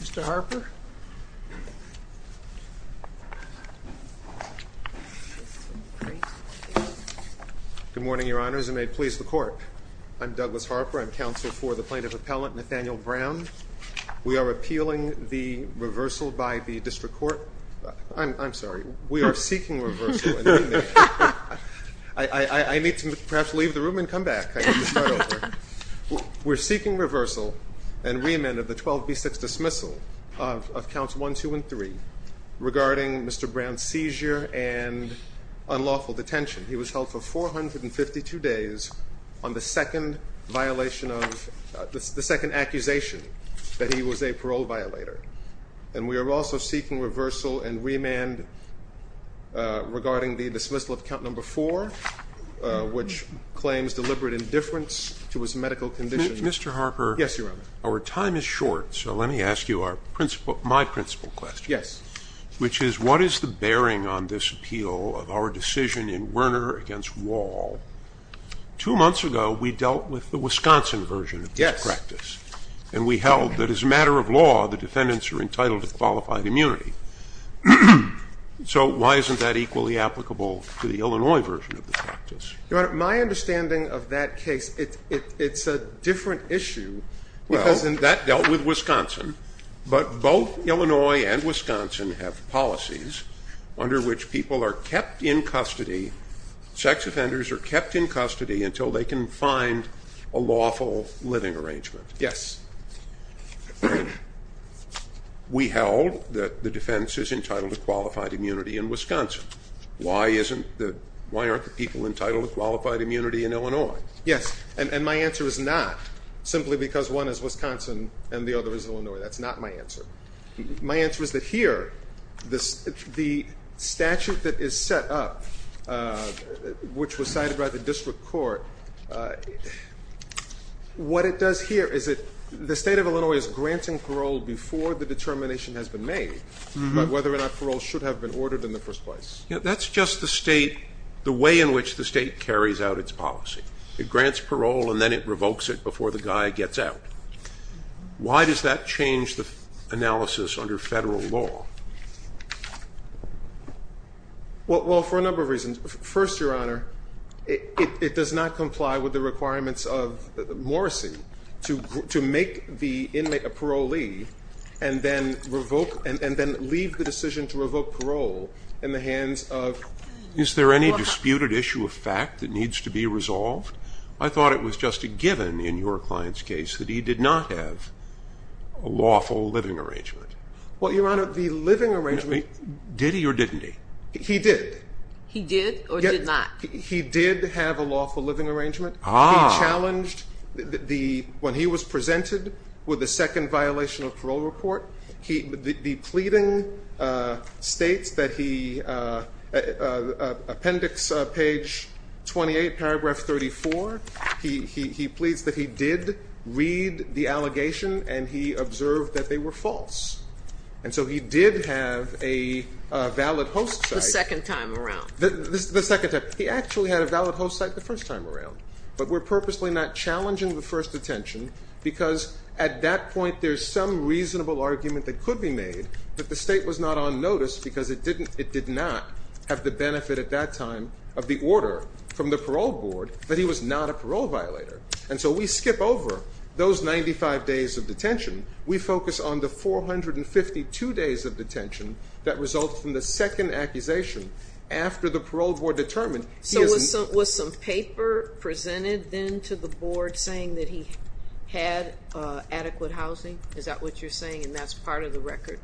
Mr. Harper? Good morning, your honors, and may it please the court. I'm Douglas Harper. I'm counsel for the plaintiff appellant Nathaniel Brown. We are appealing the reversal by the district court. I'm sorry. We are seeking reversal. I need to perhaps leave the room and come back. I need to start over. We're seeking reversal and remand of the 12B6 dismissal of counts 1, 2, and 3 regarding Mr. Brown's seizure and unlawful detention. He was held for 452 days on the second accusation that he was a parole violator. And we are also seeking reversal and remand regarding the dismissal of count number 4, which claims deliberate indifference to his medical condition. Mr. Harper? Yes, your honor. Our time is short, so let me ask you my principal question. Yes. Which is, what is the bearing on this appeal of our decision in Werner against Wall? Two months ago, we dealt with the Wisconsin version of that practice. And we held that as a matter of law, the defendants are entitled to qualified immunity. So why isn't that equally applicable to the Illinois version of the practice? My understanding of that case, it's a different issue. Well, that dealt with Wisconsin. But both Illinois and Wisconsin have policies under which people are kept in custody, sex offenders are kept in custody until they can find a lawful living arrangement. Yes. We held that the defense is entitled to qualified immunity in Wisconsin. Why aren't the people entitled to qualified immunity in Illinois? Yes. And my answer is not simply because one is Wisconsin and the other is Illinois. That's not my answer. My answer is that here, the statute that is set up, which was cited by the district court, what it does here is that the state of Illinois is granting parole before the determination has been made about whether or not parole should have been ordered in the first place. That's just the way in which the state carries out its policy. It grants parole, and then it revokes it before the guy gets out. Why does that change the analysis under federal law? Well, for a number of reasons. First, Your Honor, it does not comply with the requirements of Morrissey to make the inmate a parolee and then leave the decision to revoke parole in the hands of. Is there any disputed issue of fact that needs to be resolved? I thought it was just a given in your client's case that he did not have a lawful living arrangement. Well, Your Honor, the living arrangement. Did he or didn't he? He did. He did or did not? He did have a lawful living arrangement. He challenged, when he was presented with a second violation of parole report, the pleading states that he, appendix page 28, paragraph 34, he pleads that he did read the allegation and he observed that they were false. And so he did have a valid host site. The second time around. The second time. He actually had a valid host site the first time around. But we're purposely not challenging the first detention because at that point, there's some reasonable argument that could be made that the state was not on notice because it did not have the benefit at that time of the order from the parole board that he was not a parole violator. And so we skip over those 95 days of detention. We focus on the 452 days of detention that result from the second accusation after the parole board determined he is not. Was the paper presented then to the board saying that he had adequate housing? Is that what you're saying? And that's part of the record?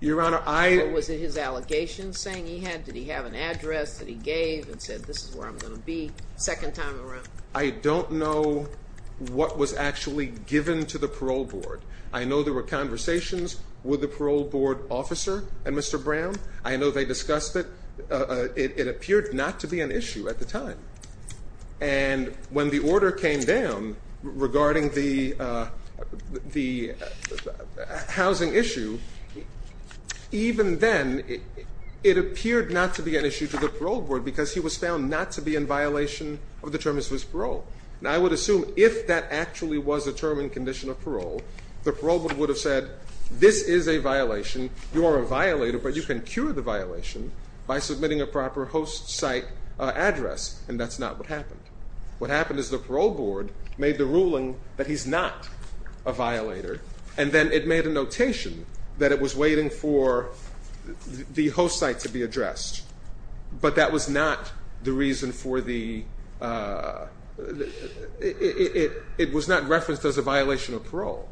Your Honor, I. Or was it his allegations saying he had? Did he have an address that he gave and said, this is where I'm going to be second time around? I don't know what was actually given to the parole board. I know there were conversations with the parole board officer and Mr. Brown. I know they discussed it. It appeared not to be an issue at the time. And when the order came down regarding the housing issue, even then, it appeared not to be an issue to the parole board because he was found not to be in violation of the terms of his parole. And I would assume if that actually was a term in condition of parole, the parole board would have said, this is a violation. You are a violator, but you can cure the violation by submitting a proper host site address. And that's not what happened. What happened is the parole board made the ruling that he's not a violator. And then it made a notation that it was waiting for the host site to be addressed. But that was not the reason for the, it was not referenced as a violation of parole.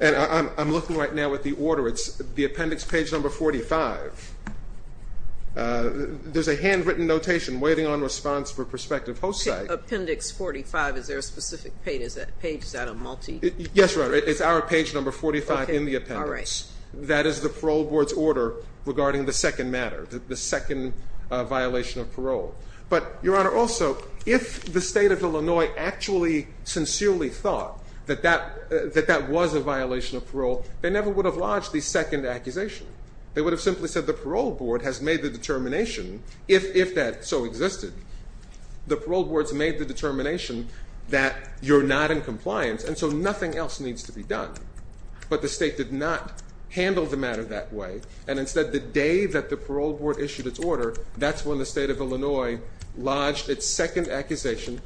And I'm looking right now at the order. The appendix page number 45, there's a handwritten notation waiting on response for prospective host site. Appendix 45, is there a specific page? Is that a multi? Yes, Your Honor. It's our page number 45 in the appendix. That is the parole board's order regarding the second matter, the second violation of parole. But Your Honor, also, if the state of Illinois actually sincerely thought that that was a violation of parole, they never would have lodged the second accusation. They would have simply said the parole board has made the determination, if that so existed. The parole board's made the determination that you're not in compliance, and so nothing else needs to be done. But the state did not handle the matter that way. And instead, the day that the parole board issued its order, that's when the state of Illinois lodged its second accusation,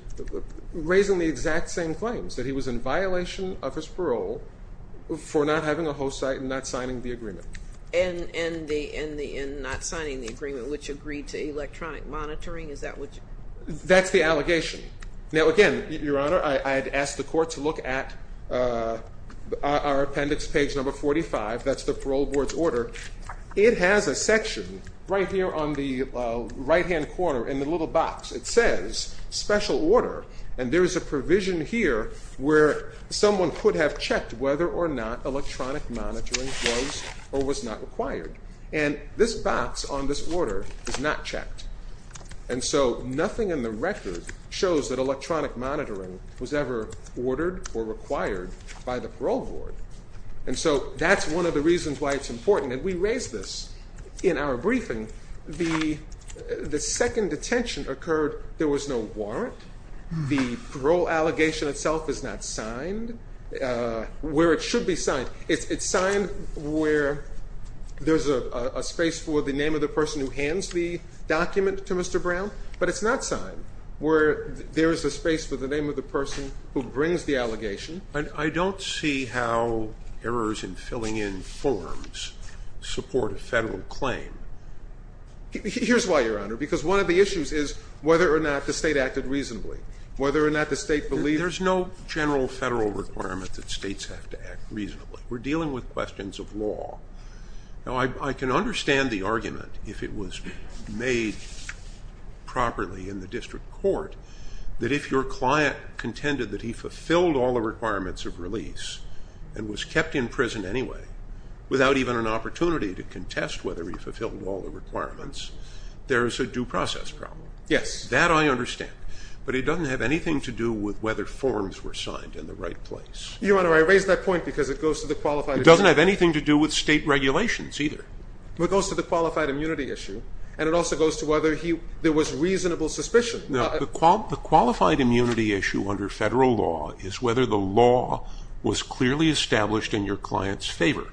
raising the exact same claims, that he was in violation of his parole for not having a host site and not signing the agreement. And not signing the agreement, which agreed to electronic monitoring? Is that what you're saying? That's the allegation. Now again, Your Honor, I'd ask the court to look at our appendix page number 45. That's the parole board's order. It has a section right here on the right hand corner in the little box. It says special order. And there is a provision here where someone could have checked whether or not electronic monitoring was or was not required. And this box on this order is not checked. And so nothing in the record shows that electronic monitoring was ever ordered or required by the parole board. And so that's one of the reasons why it's important. And we raised this in our briefing. The second detention occurred, there was no warrant. The parole allegation itself is not signed. Where it should be signed, it's signed where there's a space for the name of the person who hands the document to Mr. Brown. But it's not signed where there is a space for the name of the person who brings the allegation. And I don't see how errors in filling in forms support a federal claim. Here's why, Your Honor. Because one of the issues is whether or not the state acted reasonably. Whether or not the state believed. There's no general federal requirement that states have to act reasonably. We're dealing with questions of law. Now, I can understand the argument, if it was made properly in the district court, that if your client contended that he fulfilled all the requirements of release and was kept in prison anyway without even an opportunity to contest whether he fulfilled all the requirements, there is a due process problem. Yes. That I understand. But it doesn't have anything to do with whether forms were signed in the right place. Your Honor, I raise that point because it goes to the qualified immunity. It doesn't have anything to do with state regulations either. Well, it goes to the qualified immunity issue. And it also goes to whether there was reasonable suspicion. No, the qualified immunity issue under federal law is whether the law was clearly established in your client's favor.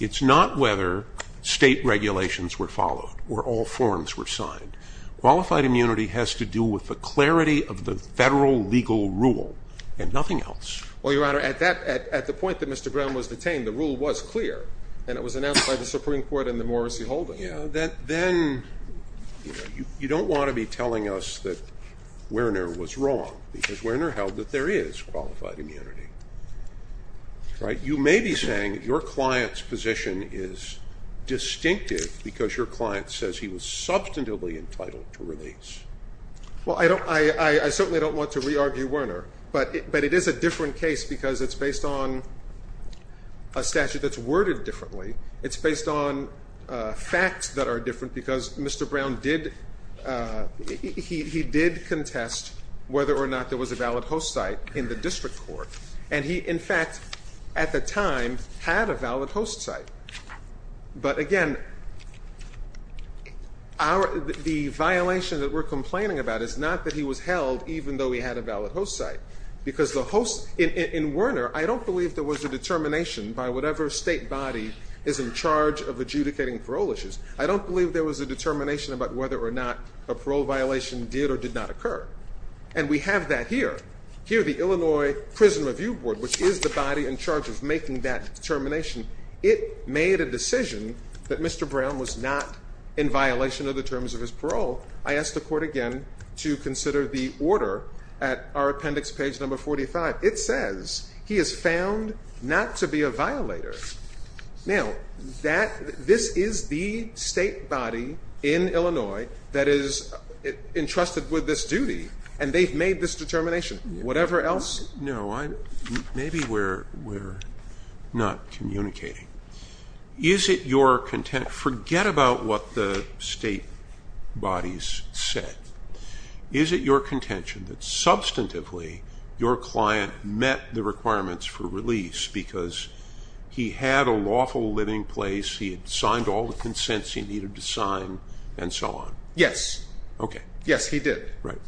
It's not whether state regulations were followed or all forms were signed. Qualified immunity has to do with the clarity of the federal legal rule and nothing else. Well, Your Honor, at the point that Mr. Brown was detained, the rule was clear. And it was announced by the Supreme Court and the Morrissey Holdings. Then you don't want to be telling us that Werner was wrong because Werner held that there is qualified immunity. You may be saying that your client's position is distinctive because your client says he was substantively entitled to release. Well, I certainly don't want to re-argue Werner. But it is a different case because it's based on a statute that's worded differently. It's based on facts that are different because Mr. Brown did contest whether or not there was a valid host site in the district court. And he, in fact, at the time, had a valid host site. But again, the violation that we're complaining about is not that he was held even though he had a valid host site. Because in Werner, I don't believe there was a determination by whatever state body is in charge of adjudicating parole issues. I don't believe there was a determination about whether or not a parole violation did or did not occur. And we have that here. Here, the Illinois Prison Review Board, which is the body in charge of making that determination, it made a decision that Mr. Brown was not in violation of the terms of his parole. I asked the court again to consider the order at our appendix, page number 45. It says he is found not to be a violator. Now, this is the state body in Illinois that is entrusted with this duty. And they've made this determination. Whatever else? No, maybe we're not communicating. Is it your contention? Forget about what the state bodies said. Is it your contention that, substantively, your client met the requirements for release because he had a lawful living place, he had signed all the consents he needed to sign, and so on? Yes. OK. Yes, he did. Right.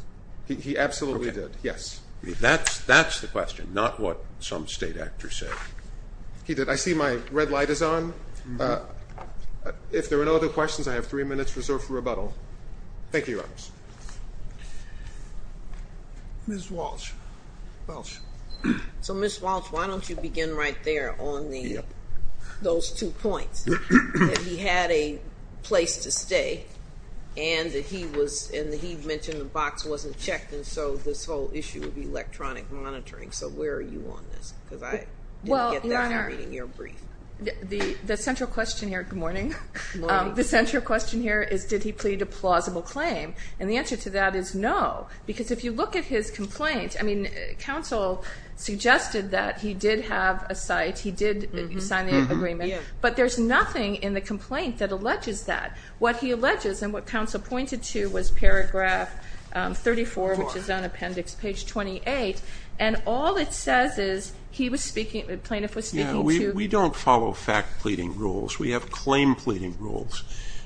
He absolutely did. Yes. That's the question, not what some state actors say. I see my red light is on. If there are no other questions, I have three minutes reserved for rebuttal. Thank you, Your Honors. Ms. Walsh. Walsh. So, Ms. Walsh, why don't you begin right there on those two points, that he had a place to stay, and that he mentioned the box wasn't checked, and so this whole issue of electronic monitoring. So where are you on this? Because I didn't get that in your brief. The central question here, good morning, the central question here is, did he plead a plausible claim? And the answer to that is no, because if you look at his complaint, I mean, counsel suggested that he did have a site, he did sign the agreement, but there's nothing in the complaint that alleges that. What he alleges, and what counsel pointed to, was paragraph 34, which is on appendix page 28, and all it says is he was speaking, the plaintiff was speaking to. We don't follow fact pleading rules, we have claim pleading rules.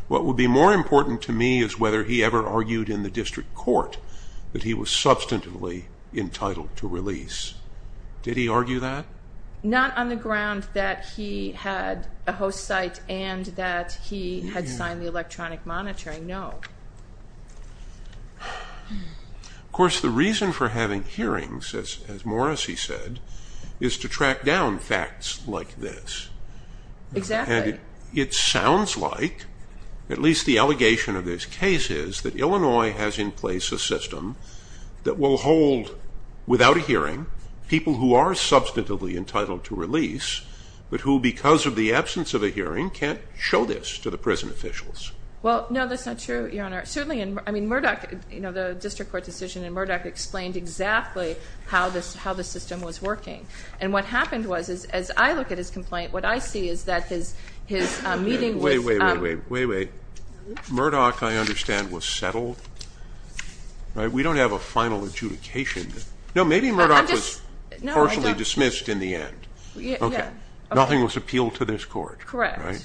What would be more important to me is whether he ever argued in the district court that he was substantively entitled to release. Did he argue that? Not on the ground that he had a host site and that he had signed the electronic monitoring, no. Of course, the reason for having hearings, as Morrisie said, is to track down facts like this. Exactly. It sounds like, at least the allegation of this case is, that Illinois has in place a system that will hold, without a hearing, people who are substantively entitled to release, but who, because of the absence of a hearing, can't show this to the prison officials. Well, no, that's not true, Your Honor. I mean, Murdoch, the district court decision in Murdoch explained exactly how the system was working. And what happened was, as I look at his complaint, what I see is that his meeting with- Wait, wait, wait, wait, wait, wait. Murdoch, I understand, was settled. We don't have a final adjudication. No, maybe Murdoch was partially dismissed in the end. OK, nothing was appealed to this court. Correct.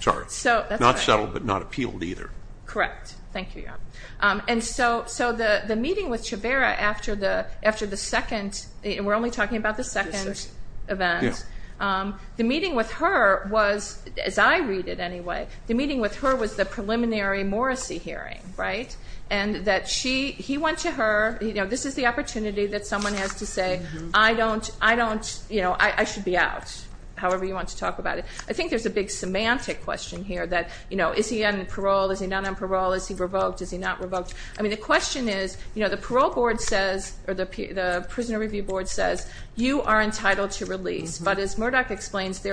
Sorry, not settled, but not appealed either. Correct, thank you, Your Honor. And so the meeting with Chavera after the second, we're only talking about the second event, the meeting with her was, as I read it anyway, the meeting with her was the preliminary Morrisie hearing, right? And that he went to her, this is the opportunity that someone has to say, I don't, I don't, you know, I should be out, however you want to talk about it. I think there's a big semantic question here that, you know, is he on parole, is he not on parole, is he revoked, is he not revoked? I mean, the question is, you know, the parole board says, or the prisoner review board says, you are entitled to release. But as Murdoch explains,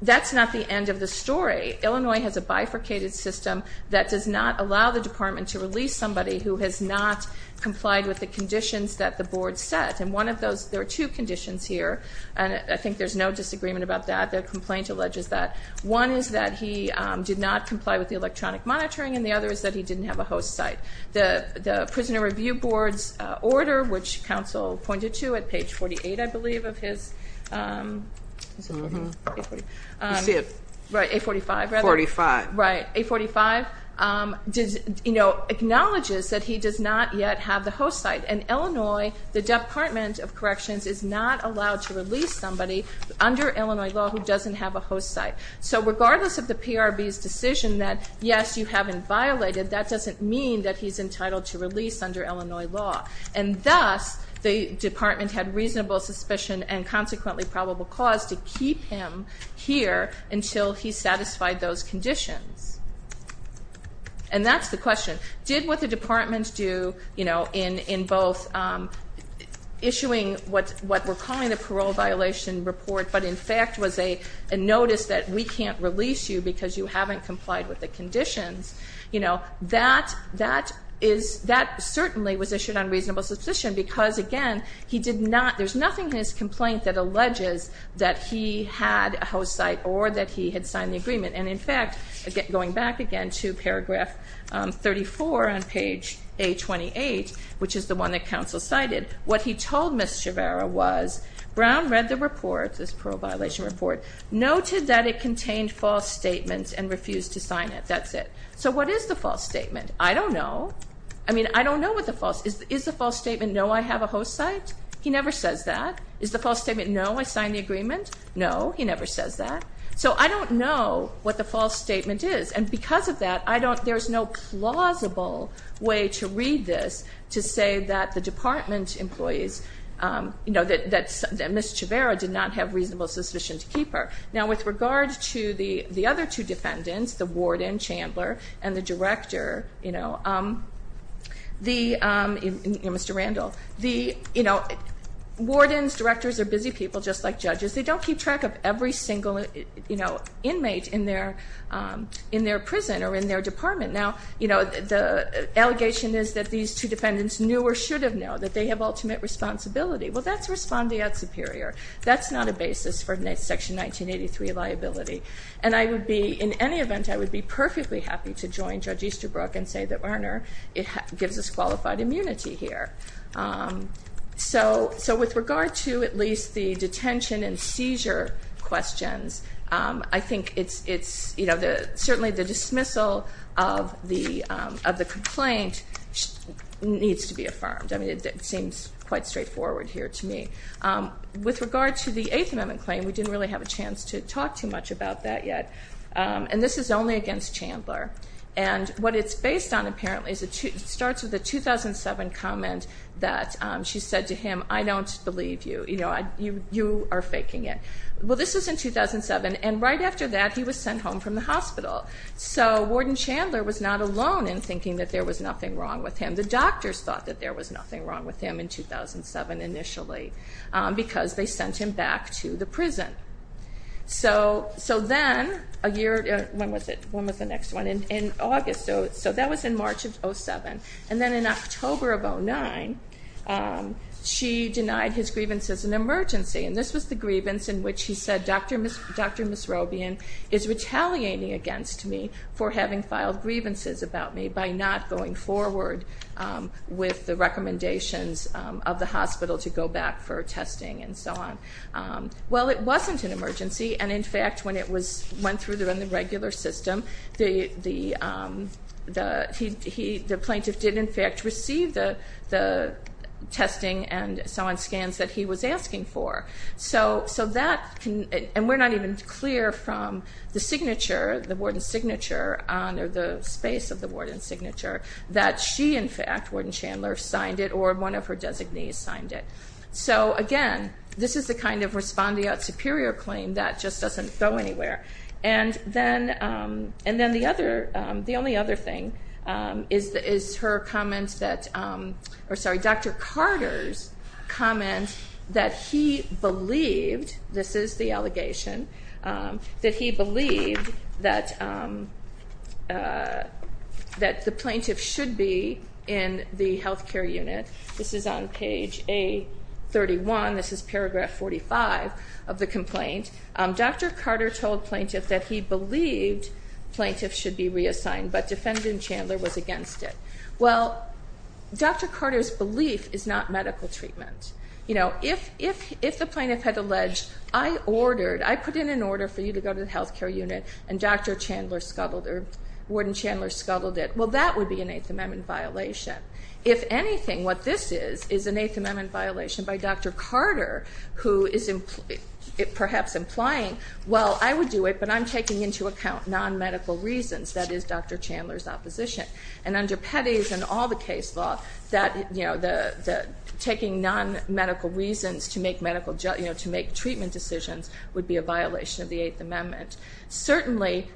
that's not the end of the story. Illinois has a bifurcated system that does not allow the department to release somebody who has not complied with the conditions that the board set. And one of those, there are two conditions here, and I think there's no disagreement about that. The complaint alleges that one is that he did not comply with the electronic monitoring, and the other is that he didn't have a host site. The prisoner review board's order, which counsel pointed to at page 48, I believe, of his. You see it. Right, 845, rather. 45. Right, 845, you know, acknowledges that he does not yet have the host site. And Illinois, the Department of Corrections is not allowed to release somebody under Illinois law who doesn't have a host site. So regardless of the PRB's decision that, yes, you haven't violated, that doesn't mean that he's entitled to release under Illinois law. And thus, the department had reasonable suspicion and consequently probable cause to keep him here until he satisfied those conditions. And that's the question. Did what the department do in both issuing what we're calling the parole violation report, but in fact was a notice that we can't release you because you haven't complied with the conditions, that certainly was issued on reasonable suspicion. Because again, he did not, there's nothing in his complaint that alleges that he had a host site or that he had signed the agreement. And in fact, going back again to paragraph 34 on page 828, which is the one that counsel cited, what he told Ms. Chavarria was, Brown read the report, this parole violation report, noted that it contained false statements and refused to sign it. That's it. So what is the false statement? I don't know. I mean, I don't know what the false is. Is the false statement, no, I have a host site? He never says that. Is the false statement, no, I signed the agreement? No, he never says that. So I don't know what the false statement is. And because of that, I don't, there's no plausible way to read this to say that the department employees, you know, that Ms. Chavarria did not have reasonable suspicion to keep her. Now, with regard to the other two defendants, the warden, Chandler, and the director, you know, the, you know, Mr. Randall, the, you know, wardens, directors are busy people just like judges. They don't keep track of every single, you know, inmate in their prison or in their department. Now, you know, the allegation is that these two defendants knew or should have known that they have ultimate responsibility. Well, that's respondeat superior. That's not a basis for Section 1983 liability. And I would be, in any event, I would be perfectly happy to join Judge Easterbrook and say that, Werner, it gives us qualified immunity here. So with regard to at least the detention and seizure questions, I think it's, you know, certainly the dismissal of the complaint needs to be affirmed. I mean, it seems quite straightforward here to me. With regard to the Eighth Amendment claim, we didn't really have a chance to talk too much about that yet. And this is only against Chandler. And what it's based on, apparently, starts with a 2007 comment that she said to him, I don't believe you. You know, you are faking it. Well, this was in 2007. And right after that, he was sent home from the hospital. So Warden Chandler was not alone in thinking that there was nothing wrong with him. The doctors thought that there was nothing wrong with him in 2007, initially, because they sent him back to the prison. So then, a year, when was it? When was the next one? In August. So that was in March of 2007. And then, in October of 2009, she denied his grievance as an emergency. And this was the grievance in which he said, Dr. Misrobian is retaliating against me for having filed grievances about me by not going forward with the recommendations of the hospital to go back for testing and so on. Well, it wasn't an emergency. And in fact, when it went through the regular system, the plaintiff did, in fact, receive the testing and so on scans that he was asking for. So that, and we're not even clear from the signature, the warden's signature, or the space of the warden's signature, that she, in fact, Warden Chandler, signed it or one of her designees signed it. So again, this is the kind of respondeat superior claim that just doesn't go anywhere. And then the only other thing is her comments that, or sorry, Dr. Carter's comment that he believed, this is the allegation, that he believed that the plaintiff should be in the health care unit. This is on page A31. This is paragraph 45 of the complaint. Dr. Carter told plaintiff that he believed plaintiff should be reassigned, but defendant Chandler was against it. Well, Dr. Carter's belief is not medical treatment. If the plaintiff had alleged, I ordered, I put in an order for you to go to the health care unit, and Dr. Chandler scuttled, or Warden Chandler scuttled it, well, that would be an Eighth Amendment violation. If anything, what this is, is an Eighth Amendment violation by Dr. Carter, who is perhaps implying, well, I would do it, but I'm taking into account non-medical reasons. That is Dr. Chandler's opposition. And under Petty's and all the case law, taking non-medical reasons to make treatment decisions would be a violation of the Eighth Amendment. Certainly,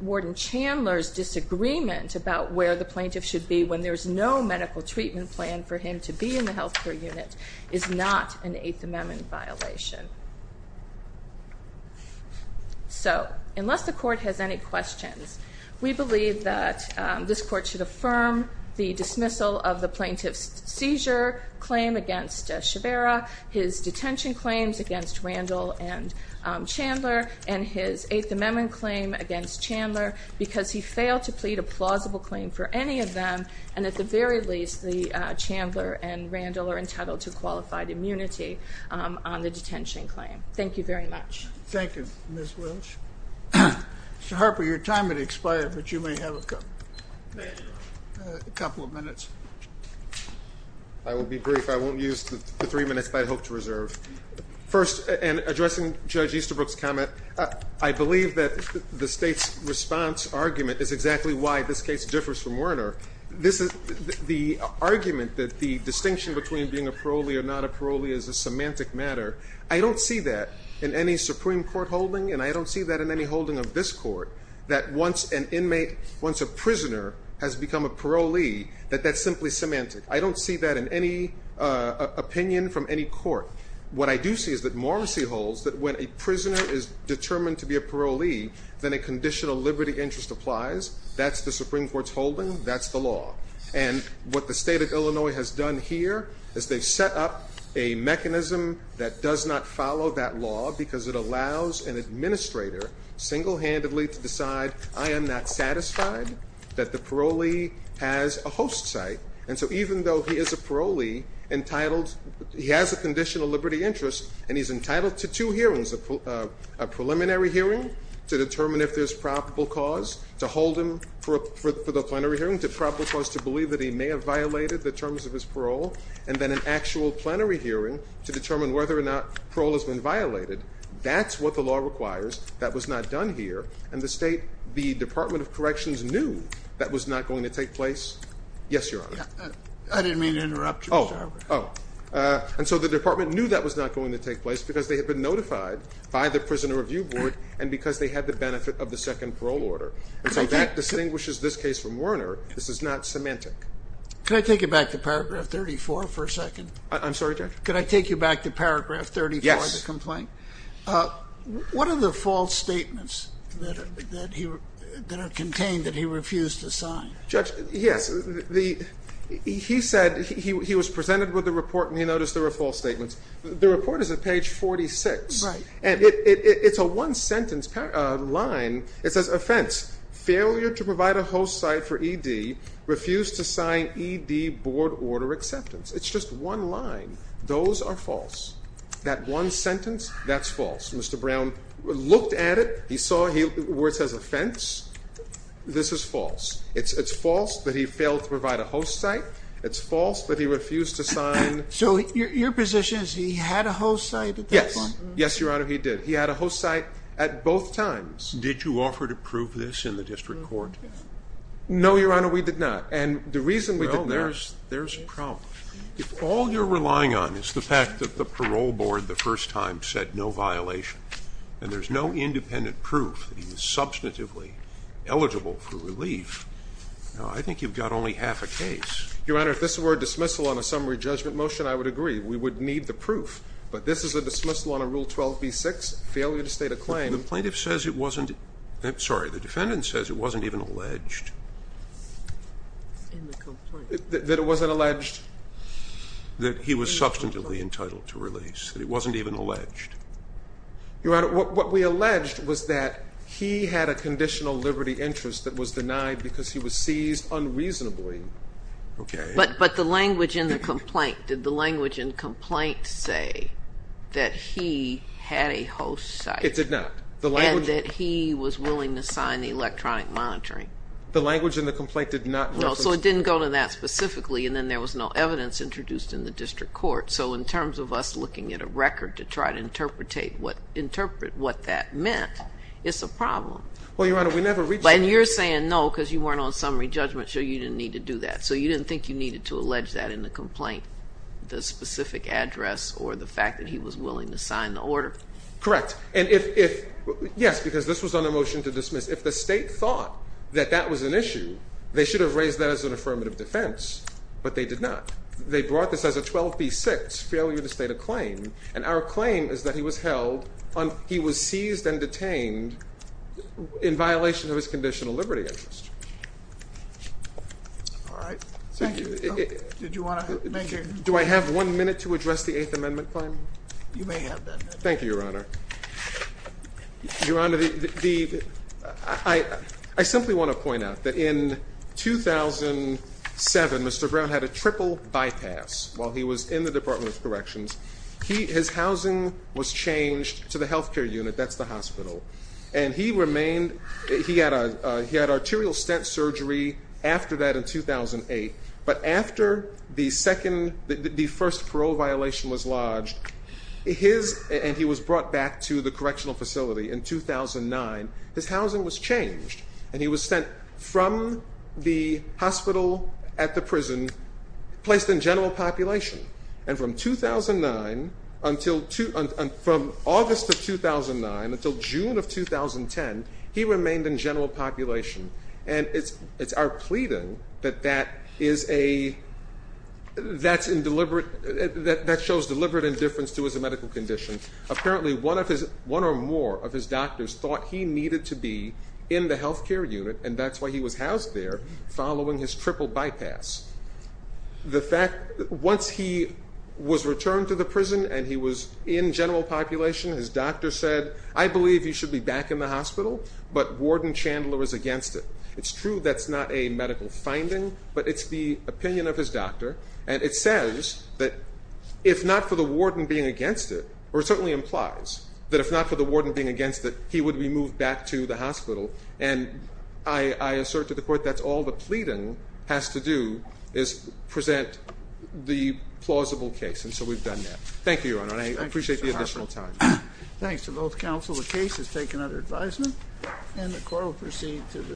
Warden Chandler's disagreement about where the plaintiff should be when there's no medical treatment plan for him to be in the health care unit is not an Eighth Amendment violation. So unless the court has any questions, we believe that this court should affirm the dismissal of the plaintiff's seizure claim against Shivera, his detention claims against Randall and Chandler, and his Eighth Amendment claim against Chandler, because he failed to plead a plausible claim for any of them. And at the very least, the Chandler and Randall are entitled to qualified immunity on the detention claim. Thank you very much. Thank you, Ms. Walsh. Mr. Harper, your time has expired, but you may have a couple of minutes. I will be brief. I won't use the three minutes that I hope to reserve. First, in addressing Judge Easterbrook's comment, I believe that the state's response argument is exactly why this case differs from Werner. This is the argument that the distinction between being a parolee or not a parolee is a semantic matter. I don't see that in any Supreme Court holding, and I don't see that in any holding of this court, that once an inmate, once a prisoner, has become a parolee, that that's simply semantic. I don't see that in any opinion from any court. What I do see is that Morrissey holds that when a prisoner is determined to be a parolee, then a conditional liberty interest applies. That's the Supreme Court's holding. That's the law. And what the state of Illinois has done here is they've set up a mechanism that does not follow that law because it allows an administrator single-handedly to decide, I am not satisfied that the parolee has a host site. And so even though he is a parolee, he has a conditional liberty interest, and he's entitled to two hearings, a preliminary hearing to determine if there's probable cause to hold him for the plenary hearing, to probable cause to believe that he may have violated the terms of his parole, and then an actual plenary hearing to determine whether or not parole has been violated. That's what the law requires. That was not done here. And the state, the Department of Corrections knew that was not going to take place. Yes, Your Honor. I didn't mean to interrupt you, Mr. Harper. And so the department knew that was not going to take place because they had been notified by the Prisoner Review Board and because they had the benefit of the second parole order. And so that distinguishes this case from Werner. This is not semantic. Could I take you back to paragraph 34 for a second? I'm sorry, Judge? Could I take you back to paragraph 34 of the complaint? Yes. What are the false statements that are contained that he refused to sign? Judge, yes. He said he was presented with the report and he noticed there were false statements. The report is at page 46. And it's a one-sentence line. It says, offense, failure to provide a host site for ED, refused to sign ED board order acceptance. It's just one line. Those are false. That one sentence, that's false. Mr. Brown looked at it. He saw where it says offense. This is false. It's false that he failed to provide a host site. So your position is he had a host site at that point? Yes. Yes, Your Honor, he did. He had a host site at both times. Did you offer to prove this in the district court? No, Your Honor, we did not. And the reason we did not is there's a problem. If all you're relying on is the fact that the parole board the first time said no violation, and there's no independent proof that he is substantively eligible for relief, I think you've got only half a case. Your Honor, if this were a dismissal on a summary judgment motion, I would agree. We would need the proof. But this is a dismissal on a Rule 12b-6, failure to state a claim. The plaintiff says it wasn't, I'm sorry, the defendant says it wasn't even alleged. That it wasn't alleged? That he was substantively entitled to release. That it wasn't even alleged. Your Honor, what we alleged was that he had a conditional liberty interest that was denied because he was seized unreasonably. But the language in the complaint, did the language in complaint say that he had a host site? It did not. The language? And that he was willing to sign the electronic monitoring. The language in the complaint did not reference? No, so it didn't go to that specifically. And then there was no evidence introduced in the district court. So in terms of us looking at a record to try to interpret what that meant, it's a problem. Well, Your Honor, we never reached out. And you're saying no, because you weren't on summary judgment. So you didn't need to do that. So you didn't think you needed to allege that in the complaint, the specific address or the fact that he was willing to sign the order? Correct. And if, yes, because this was on a motion to dismiss. If the state thought that that was an issue, they should have raised that as an affirmative defense. But they did not. They brought this as a 12B6, failure to state a claim. And our claim is that he was held, he was seized and detained in violation of his conditional liberty interest. All right. Thank you. Did you want to make your comment? Do I have one minute to address the Eighth Amendment claim? You may have that minute. Thank you, Your Honor. Your Honor, I simply want to point out that in 2007, Mr. Brown had a triple bypass while he was in the Department of Corrections. His housing was changed to the health care unit. That's the hospital. And he had arterial stent surgery after that in 2008. But after the first parole violation was lodged, and he was brought back to the correctional facility in 2009, his housing was changed. And he was sent from the hospital at the prison, placed in general population. And from 2009 until, from August of 2009 until June of 2010, he remained in general population. And it's our pleading that that is a, that's in deliberate, that shows deliberate indifference to his medical condition. Apparently one or more of his doctors thought he needed to be in the health care unit, and that's why he was housed there following his triple bypass. The fact, once he was returned to the prison and he was in general population, his doctor said, I believe you should be back in the hospital, but Warden Chandler is against it. It's true that's not a medical finding, but it's the opinion of his doctor. And it says that if not for the warden being against it, or it certainly implies that if not for the warden being against it, he would be moved back to the hospital. And I assert to the court that's all the pleading has to do is present the plausible case. And so we've done that. Thank you, Your Honor, and I appreciate the additional time. Thanks to both counsel. The case is taken under advisement and the court will proceed to the